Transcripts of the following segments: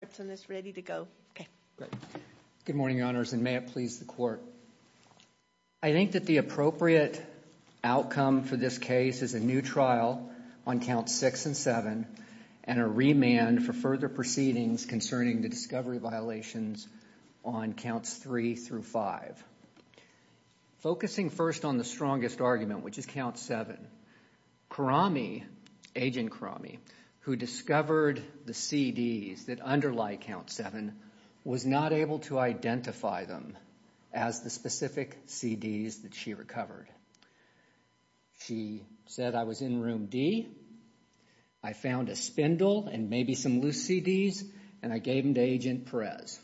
Good morning, Your Honors, and may it please the Court. I think that the appropriate outcome for this case is a new trial on Counts 6 and 7 and a remand for further proceedings concerning the discovery violations on Counts 3 through 5. Focusing first on the strongest argument, which is Count 7, Karami, Agent Karami, who discovered the CDs that underlie Count 7, was not able to identify them as the specific CDs that she recovered. She said, I was in room D, I found a spindle and maybe some loose CDs, and I gave them to Agent Perez.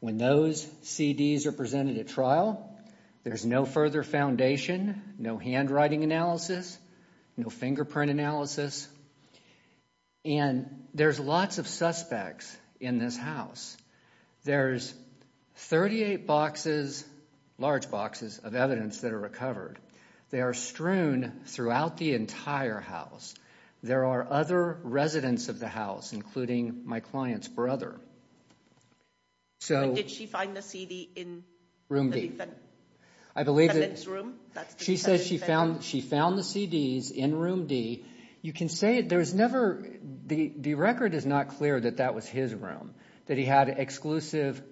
When those CDs are presented at trial, there's no further foundation, no handwriting analysis, no fingerprint analysis, and there's lots of suspects in this house. There's 38 boxes, large boxes, of evidence that are recovered. They are strewn throughout the entire house. There are other residents of the house, including my client's brother. When did she find the CD in room D? She said she found the CDs in room D. The record is not clear that that was his room, that he had exclusive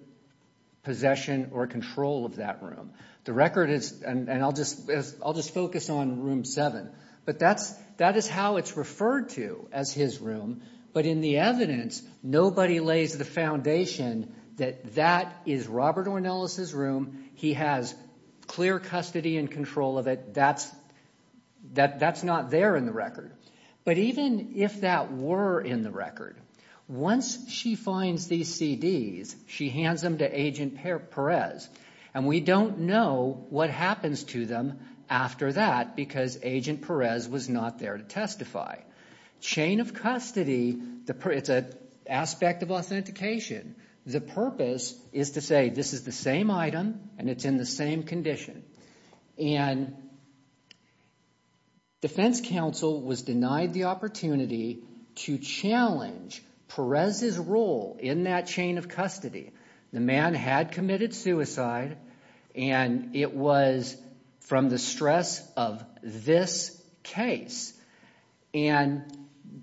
possession or control of that room. The record is, and I'll just focus on room 7, but that is how it's referred to as his room, but in the evidence, nobody lays the foundation that that is Robert Ornelas' room, he has clear custody and control of it, that's not there in the record. But even if that were in the record, once she finds these CDs, she hands them to Agent Perez, and we don't know what happens to them after that because Agent Perez was not there to testify. Chain of custody, it's an aspect of authentication. The purpose is to say this is the same item, and it's in the same condition. And defense counsel was denied the opportunity to challenge Perez's role in that chain of custody. The man had committed suicide, and it was from the stress of this case. And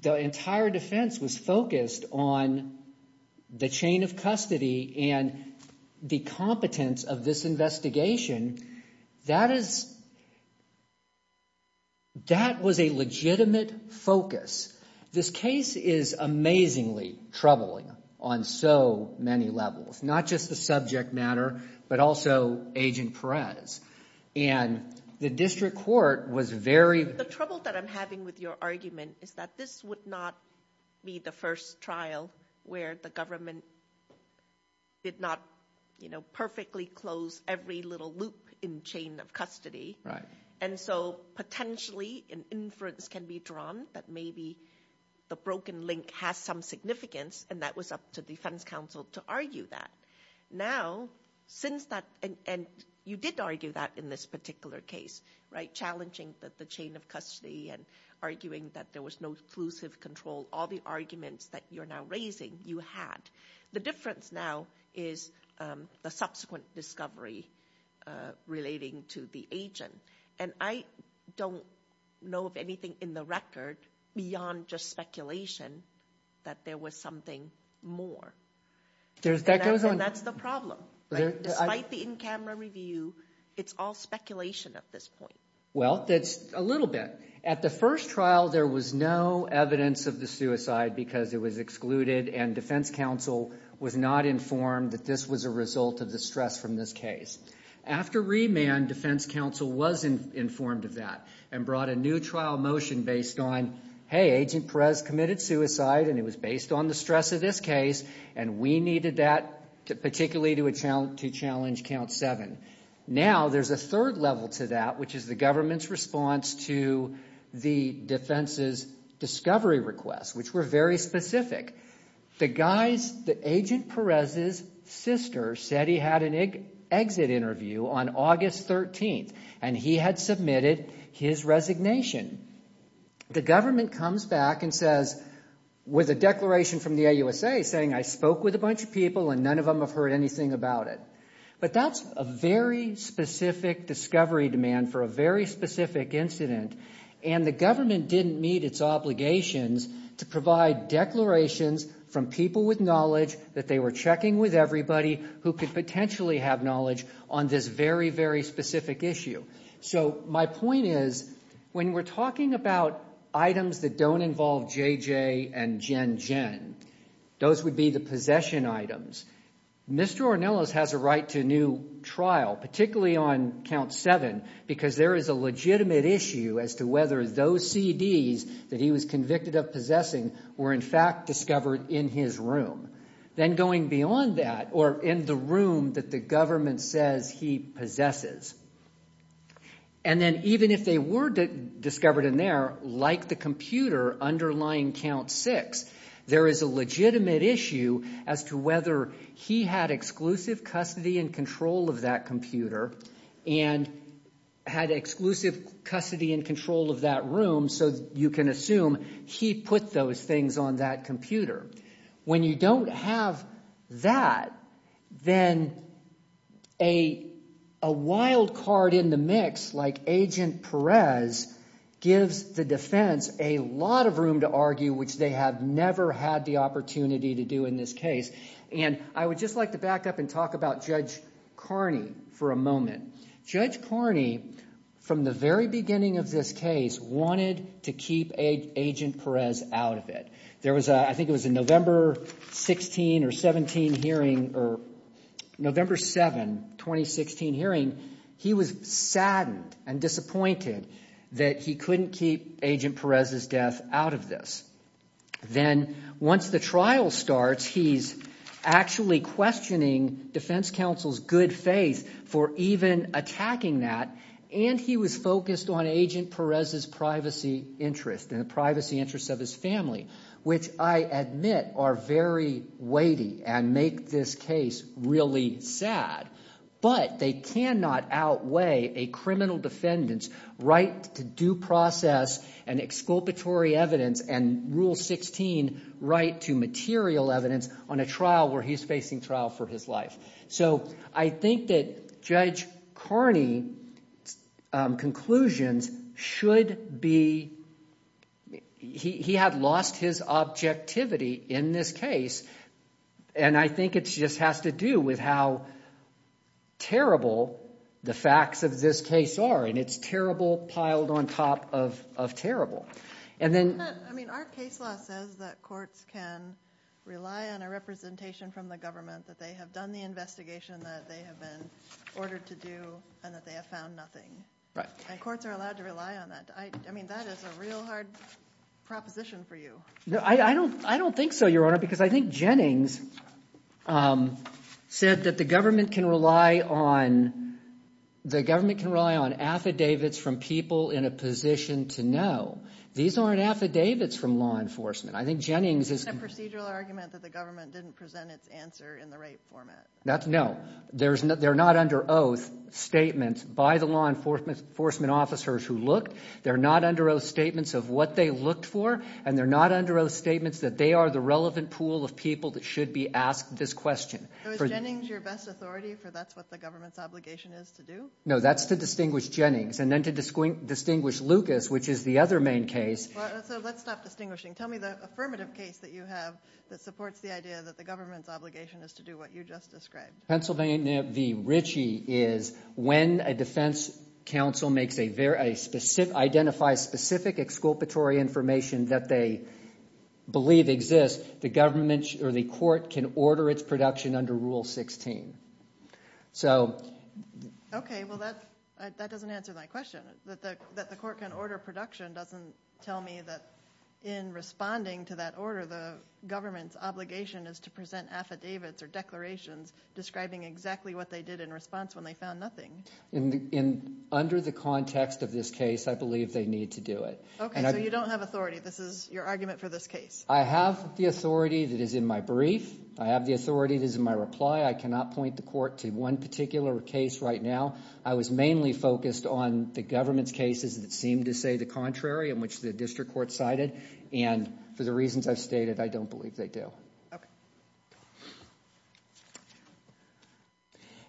the entire defense was focused on the chain of custody and the competence of this investigation. That is, that was a legitimate focus. This case is amazingly troubling on so many levels, not just the subject matter, but also Agent Perez. And the district court was very... The trouble that I'm having with your argument is that this would not be the first trial where the government did not perfectly close every little loop in chain of custody. And so potentially an inference can be drawn that maybe the broken link has some significance, and that was up to defense counsel to argue that. Now, since that... And you did argue that in this particular case, right? Challenging the chain of custody and arguing that there was no exclusive control, all the arguments that you're now raising, you had. The difference now is the subsequent discovery relating to the agent. And I don't know of anything in the record beyond just speculation that there was something more. And that's the problem. Despite the in-camera review, it's all speculation at this point. Well, it's a little bit. At the first trial, there was no evidence of the suicide because it was excluded, and defense counsel was not informed that this was a result of the stress from this case. After remand, defense counsel was informed of that and brought a new trial motion based on, hey, Agent Perez committed suicide, and it was based on the stress of this case, and we needed that particularly to challenge Count 7. Now, there's a third level to that, which is the government's response to the defense's discovery requests, which were very specific. The guys, the Agent Perez's sister said he had an exit interview on August 13th, and he had submitted his resignation. The government comes back and says, with a declaration from the AUSA saying, I spoke with a bunch of people and none of them have heard anything about it. But that's a very specific discovery demand for a very specific incident, and the government didn't meet its obligations to provide declarations from people with knowledge that they were checking with everybody who could potentially have knowledge on this very, very specific issue. So, my point is, when we're talking about items that don't involve JJ and Jen Jen, those would be the possession items. Mr. Ornelas has a right to a new trial, particularly on Count 7, because there is a legitimate issue as to whether those CDs that he was convicted of possessing were in fact discovered in his room. Then going beyond that, or in the room that the government says he possesses, and then even if they were discovered in there, like the computer underlying Count 6, there is a legitimate issue as to whether he had exclusive custody and control of that computer, and had exclusive custody and control of that room, so you can assume he put those things on that computer. When you don't have that, then a wild card in the mix like Agent Perez gives the defense a lot of room to argue, which they have never had the opportunity to do in this case. And I would just like to back up and talk about Judge Carney for a moment. Judge Carney, from the very beginning of this case, wanted to keep Agent Perez out of it. There was a, I think it was a November 16 or 17 hearing, or November 7, 2016 hearing, he was saddened and disappointed that he couldn't keep Agent Perez's death out of this. Then once the trial starts, he's actually questioning defense counsel's good faith for even attacking that, and he was focused on Agent Perez's privacy interest and the privacy interests of his family, which I admit are very weighty and make this case really sad. But they cannot outweigh a criminal defendant's right to due process and exculpatory evidence and Rule 16 right to material evidence on a trial where he's facing trial for his life. So I think that Judge Carney's conclusions should be, he had lost his objectivity in this case, and I think it just has to do with how terrible the facts of this case are, and it's terrible piled on top of terrible. And then... I mean, our case law says that courts can rely on a representation from the government, that they have done the investigation that they have been ordered to do, and that they have found nothing. And courts are allowed to rely on that. I mean, that is a real hard proposition for you. No, I don't think so, Your Honor, because I think Jennings said that the government can rely on affidavits from people in a position to know. These aren't affidavits from law enforcement. I think Jennings is... Is that a procedural argument that the government didn't present its answer in the right format? No. They're not under oath statements by the law enforcement officers who looked. They're not under oath statements of what they looked for, and they're not under oath statements that they are the relevant pool of people that should be asked this question. So is Jennings your best authority, for that's what the government's obligation is to do? No, that's to distinguish Jennings, and then to distinguish Lucas, which is the other main case. So let's stop distinguishing. Tell me the affirmative case that you have that supports the idea that the government's obligation is to do what you just described. Pennsylvania v. Ritchie is when a defense counsel makes a very specific... Identifies specific exculpatory information that they believe exists, the government or the court can order its production under Rule 16. So... Okay, well, that doesn't answer my question. That the court can order production doesn't tell me that in responding to that order, the government's obligation is to send affidavits or declarations describing exactly what they did in response when they found nothing. In the... Under the context of this case, I believe they need to do it. Okay, so you don't have authority. This is your argument for this case. I have the authority that is in my brief. I have the authority that is in my reply. I cannot point the court to one particular case right now. I was mainly focused on the government's cases that seemed to say the contrary in which the district court cited, and for the reasons I've stated, I don't believe they do. Okay.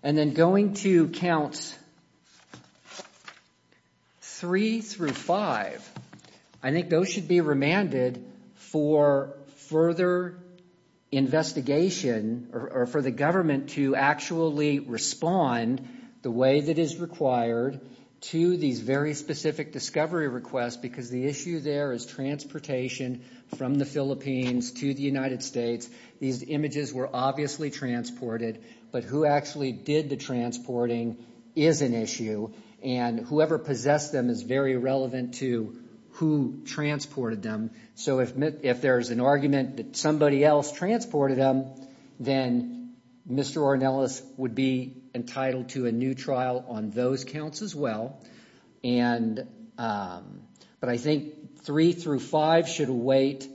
And then going to counts three through five, I think those should be remanded for further investigation or for the government to actually respond the way that is required to these very specific discovery requests because the issue there is transportation from the Philippines to the United States. These images were obviously transported, but who actually did the transporting is an issue, and whoever possessed them is very relevant to who transported them. So if there's an argument that somebody else transported them, then Mr. Ornelas would be entitled to a new trial on those counts as well. But I think three through five should await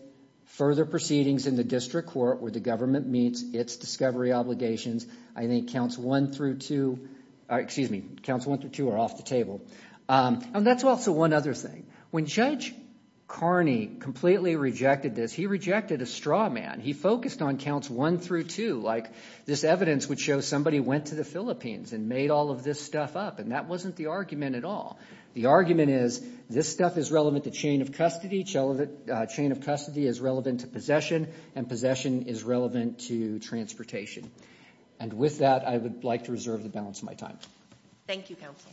further proceedings in the district court where the government meets its discovery obligations. I think counts one through two are off the table. And that's also one other thing. When Judge Carney completely rejected this, he rejected a straw man. He focused on counts one through two, like this evidence would show somebody went to the Philippines and made all of this stuff up, and that wasn't the argument at all. The argument is this stuff is relevant to chain of custody, chain of custody is relevant to possession, and possession is relevant to transportation. And with that, I would like to reserve the balance of my time. Thank you, counsel.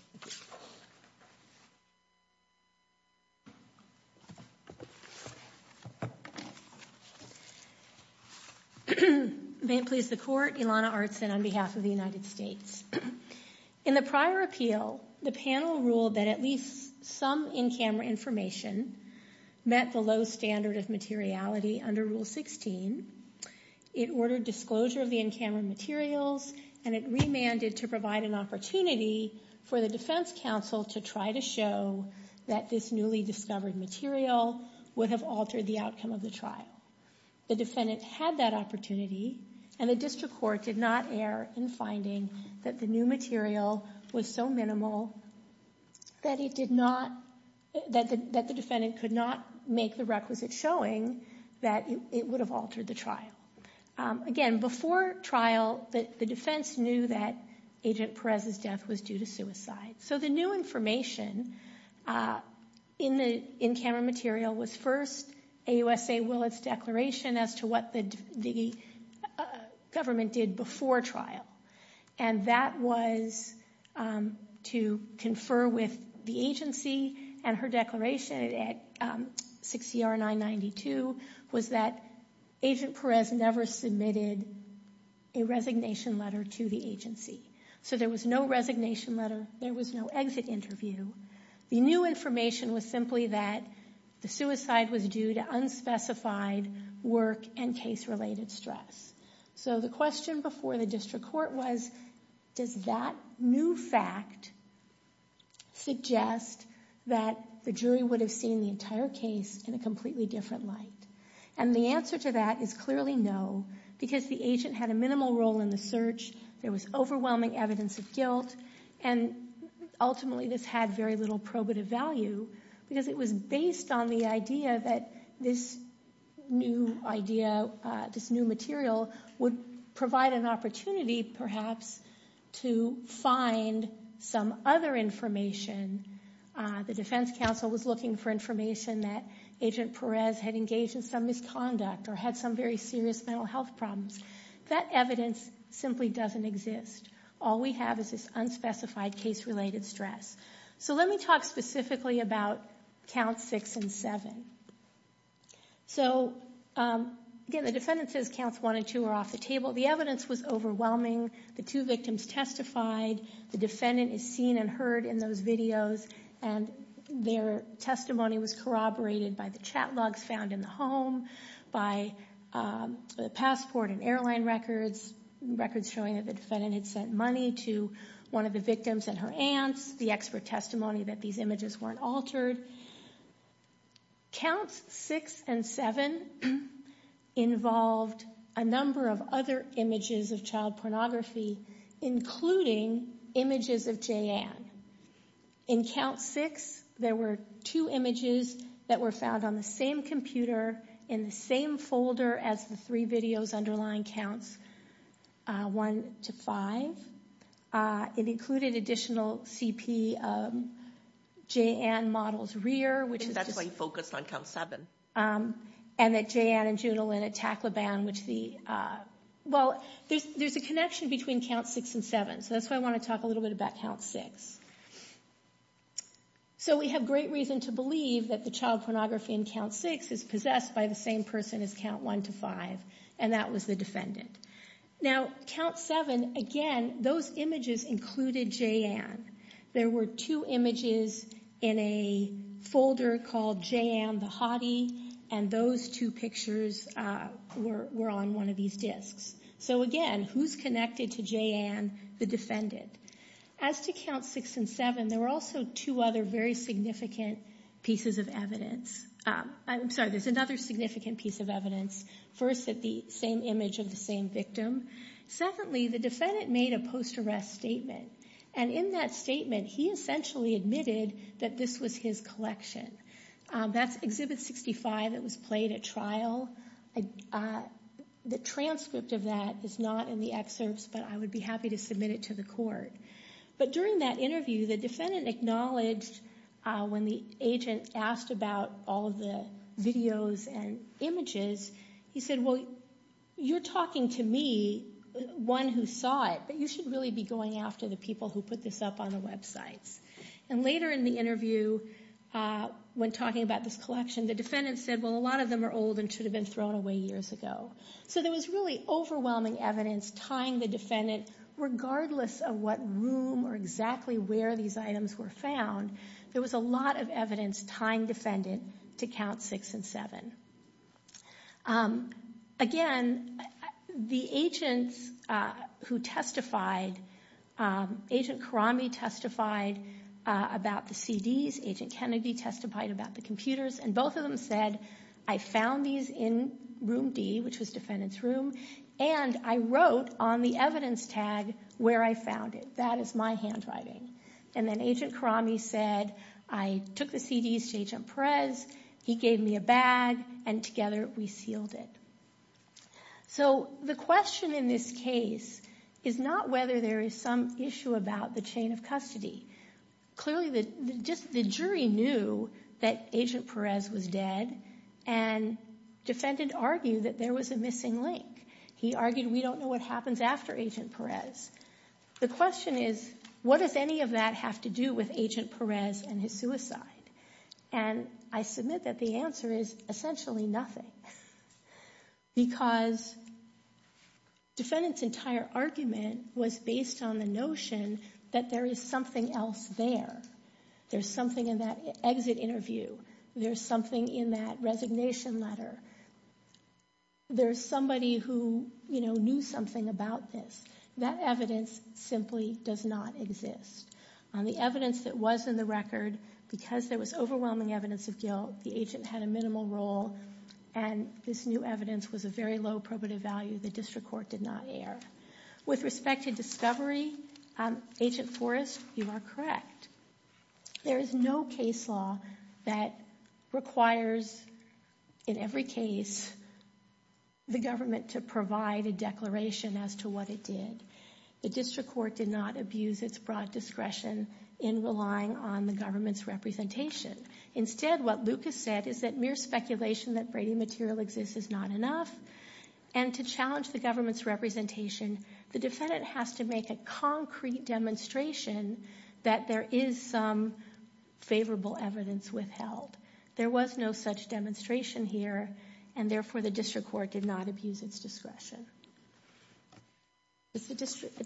May it please the court. Ilana Artzen on behalf of the United States. In the prior appeal, the panel ruled that at least some in-camera information met the low standard of materiality under Rule 16. It ordered disclosure of the in-camera materials, and it remanded to provide an opportunity for the defense counsel to try to show that this newly discovered material would have altered the outcome of the trial. The defendant had that opportunity, and the district court did not err in finding that the new material was so minimal that it did not, that the defendant could not make the requisite showing that it would have altered the trial. Again, before trial, the defense knew that Agent Perez's death was due to suicide. So the new information in the in-camera material was first AUSA Willett's declaration as to what the government did before trial. And that was to confer with the agency, and her declaration at 6ER 992 was that Agent Perez never submitted a resignation letter to the agency. So there was no resignation letter. There was no exit interview. The new information was simply that the suicide was due to unspecified work and case-related stress. So the question before the district court was, does that new fact suggest that the jury would have seen the entire case in a completely different light? And the answer to that is clearly no, because the agent had a minimal role in the search. There was overwhelming evidence of guilt, and ultimately this had very little probative value, because it was based on the idea that this new idea, this new material, would provide an opportunity perhaps to find some other information. The defense counsel was looking for information that Agent Perez had engaged in some misconduct, or had some very serious mental health problems. That evidence simply doesn't exist. All we have is this unspecified case-related stress. So let me talk specifically about Counts 6 and 7. So again, the defendant says Counts 1 and 2 are off the table. The evidence was overwhelming. The two victims testified. The defendant is seen and heard in those videos, and their testimony was corroborated by the chat logs found in the home, by passport and airline records, records showing that the defendant had sent money to one of the victims and her aunts, the expert testimony that these images weren't altered. Counts 6 and 7 involved a number of images of child pornography, including images of Jeanne. In Counts 6, there were two images that were found on the same computer, in the same folder as the three videos underlying Counts 1 to 5. It included additional CP of Jeanne's model's rear, and that Jeanne and Junalyn Tacloban. Well, there's a connection between Counts 6 and 7, so that's why I want to talk a little bit about Counts 6. So we have great reason to believe that the child pornography in Counts 6 is possessed by the same person as Counts 1 to 5, and that was the defendant. Now, Counts 7, again, those images included Jeanne. There were two images in a folder called Jeanne the hottie, and those two pictures were on one of these disks. So again, who's connected to Jeanne? The defendant. As to Counts 6 and 7, there were also two other very significant pieces of evidence. I'm sorry, there's another significant piece of evidence. First, at the same image of the same victim. Secondly, the defendant made a post-arrest statement, and in that statement, he essentially admitted that this was his collection. That's Exhibit 65 that was played at trial. The transcript of that is not in the excerpts, but I would be happy to submit it to the court. But during that interview, the defendant acknowledged when the agent asked about all of the videos and images, he said, well, you're talking to me, one who saw it, but you should really be going after the people who put this up on the websites. And later in the interview, when talking about this collection, the defendant said, well, a lot of them are old and should have been thrown away years ago. So there was really overwhelming evidence tying the defendant, regardless of what room or exactly where these items were found, there was a lot of evidence tying defendant to Counts 6 and 7. Again, the agents who testified, Agent Karame testified about the CDs, Agent Kennedy testified about the computers, and both of them said, I found these in room D, which was defendant's room, and I wrote on the evidence tag where I found it. That is my handwriting. And then Agent Karame said, I took the CDs to Agent Perez, he gave me a bag, and together we sealed it. So the question in this case is not whether there is some issue about the chain of custody. Clearly, just the jury knew that Agent Perez was dead, and defendant argued that there was a missing link. He argued, we don't know what happens after Agent Perez. The question is, what does any of that have to do with Agent Perez and his suicide? And I submit that the answer is essentially nothing. Because defendant's entire argument was based on the notion that there is something else there. There's something in that exit interview. There's something in that resignation letter. There's somebody who, you know, knew something about this. That evidence simply does not exist. The evidence that was in the record, because there was overwhelming evidence of guilt, the agent had a minimal role, and this new evidence was a very low probative value. The district court did not err. With respect to discovery, Agent Forrest, you are correct. There is no case law that requires, in every case, the government to provide a declaration as to what it did. The district court did not abuse its broad discretion in relying on the government's representation. Instead, what Lucas said is that mere speculation that Brady material exists is not enough, and to challenge the government's representation, the defendant has to make a concrete demonstration that there is some favorable evidence withheld. There was no such demonstration here, and therefore the district court did not abuse its discretion.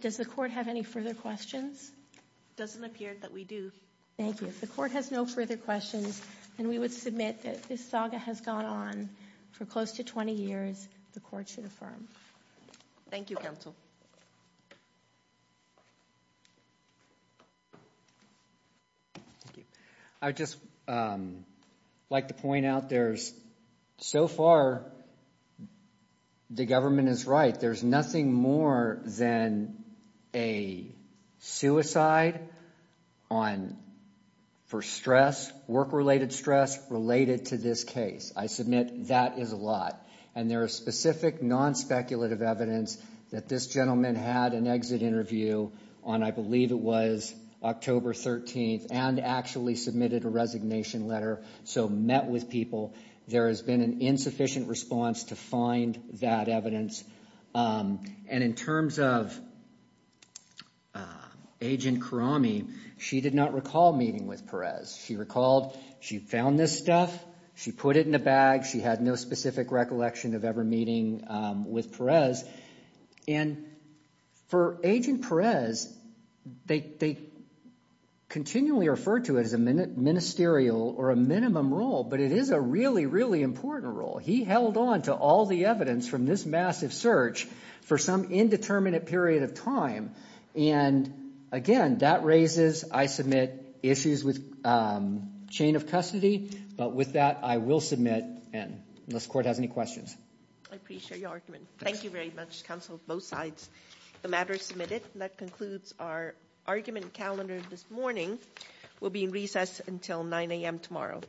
Does the court have any further questions? It doesn't appear that we do. Thank you. If the court has no further questions, then we would submit that this saga has gone on for close to 20 years. The court should affirm. Thank you, counsel. Thank you. I'd just like to point out there's, so far, the government is right. There's nothing more than a suicide on, for stress, work-related stress, related to this case. I submit that is a lot, and there is specific, non-speculative evidence that this gentleman had an exit interview on, I believe it was October 13th, and actually submitted a resignation letter, so met with people. There has been an insufficient response to find that evidence, and in terms of Agent Karame, she did not recall meeting with Perez. She recalled she found this stuff, she put it in a bag, she had no specific recollection of ever with Perez. And for Agent Perez, they continually refer to it as a ministerial or a minimum role, but it is a really, really important role. He held on to all the evidence from this massive search for some indeterminate period of time, and again, that raises, I submit, issues with chain of custody, but with that, I will submit, unless the court has any questions. I appreciate your argument. Thank you very much, counsel, both sides. The matter is submitted, and that concludes our argument calendar this morning. We'll be in recess until 9 a.m. tomorrow.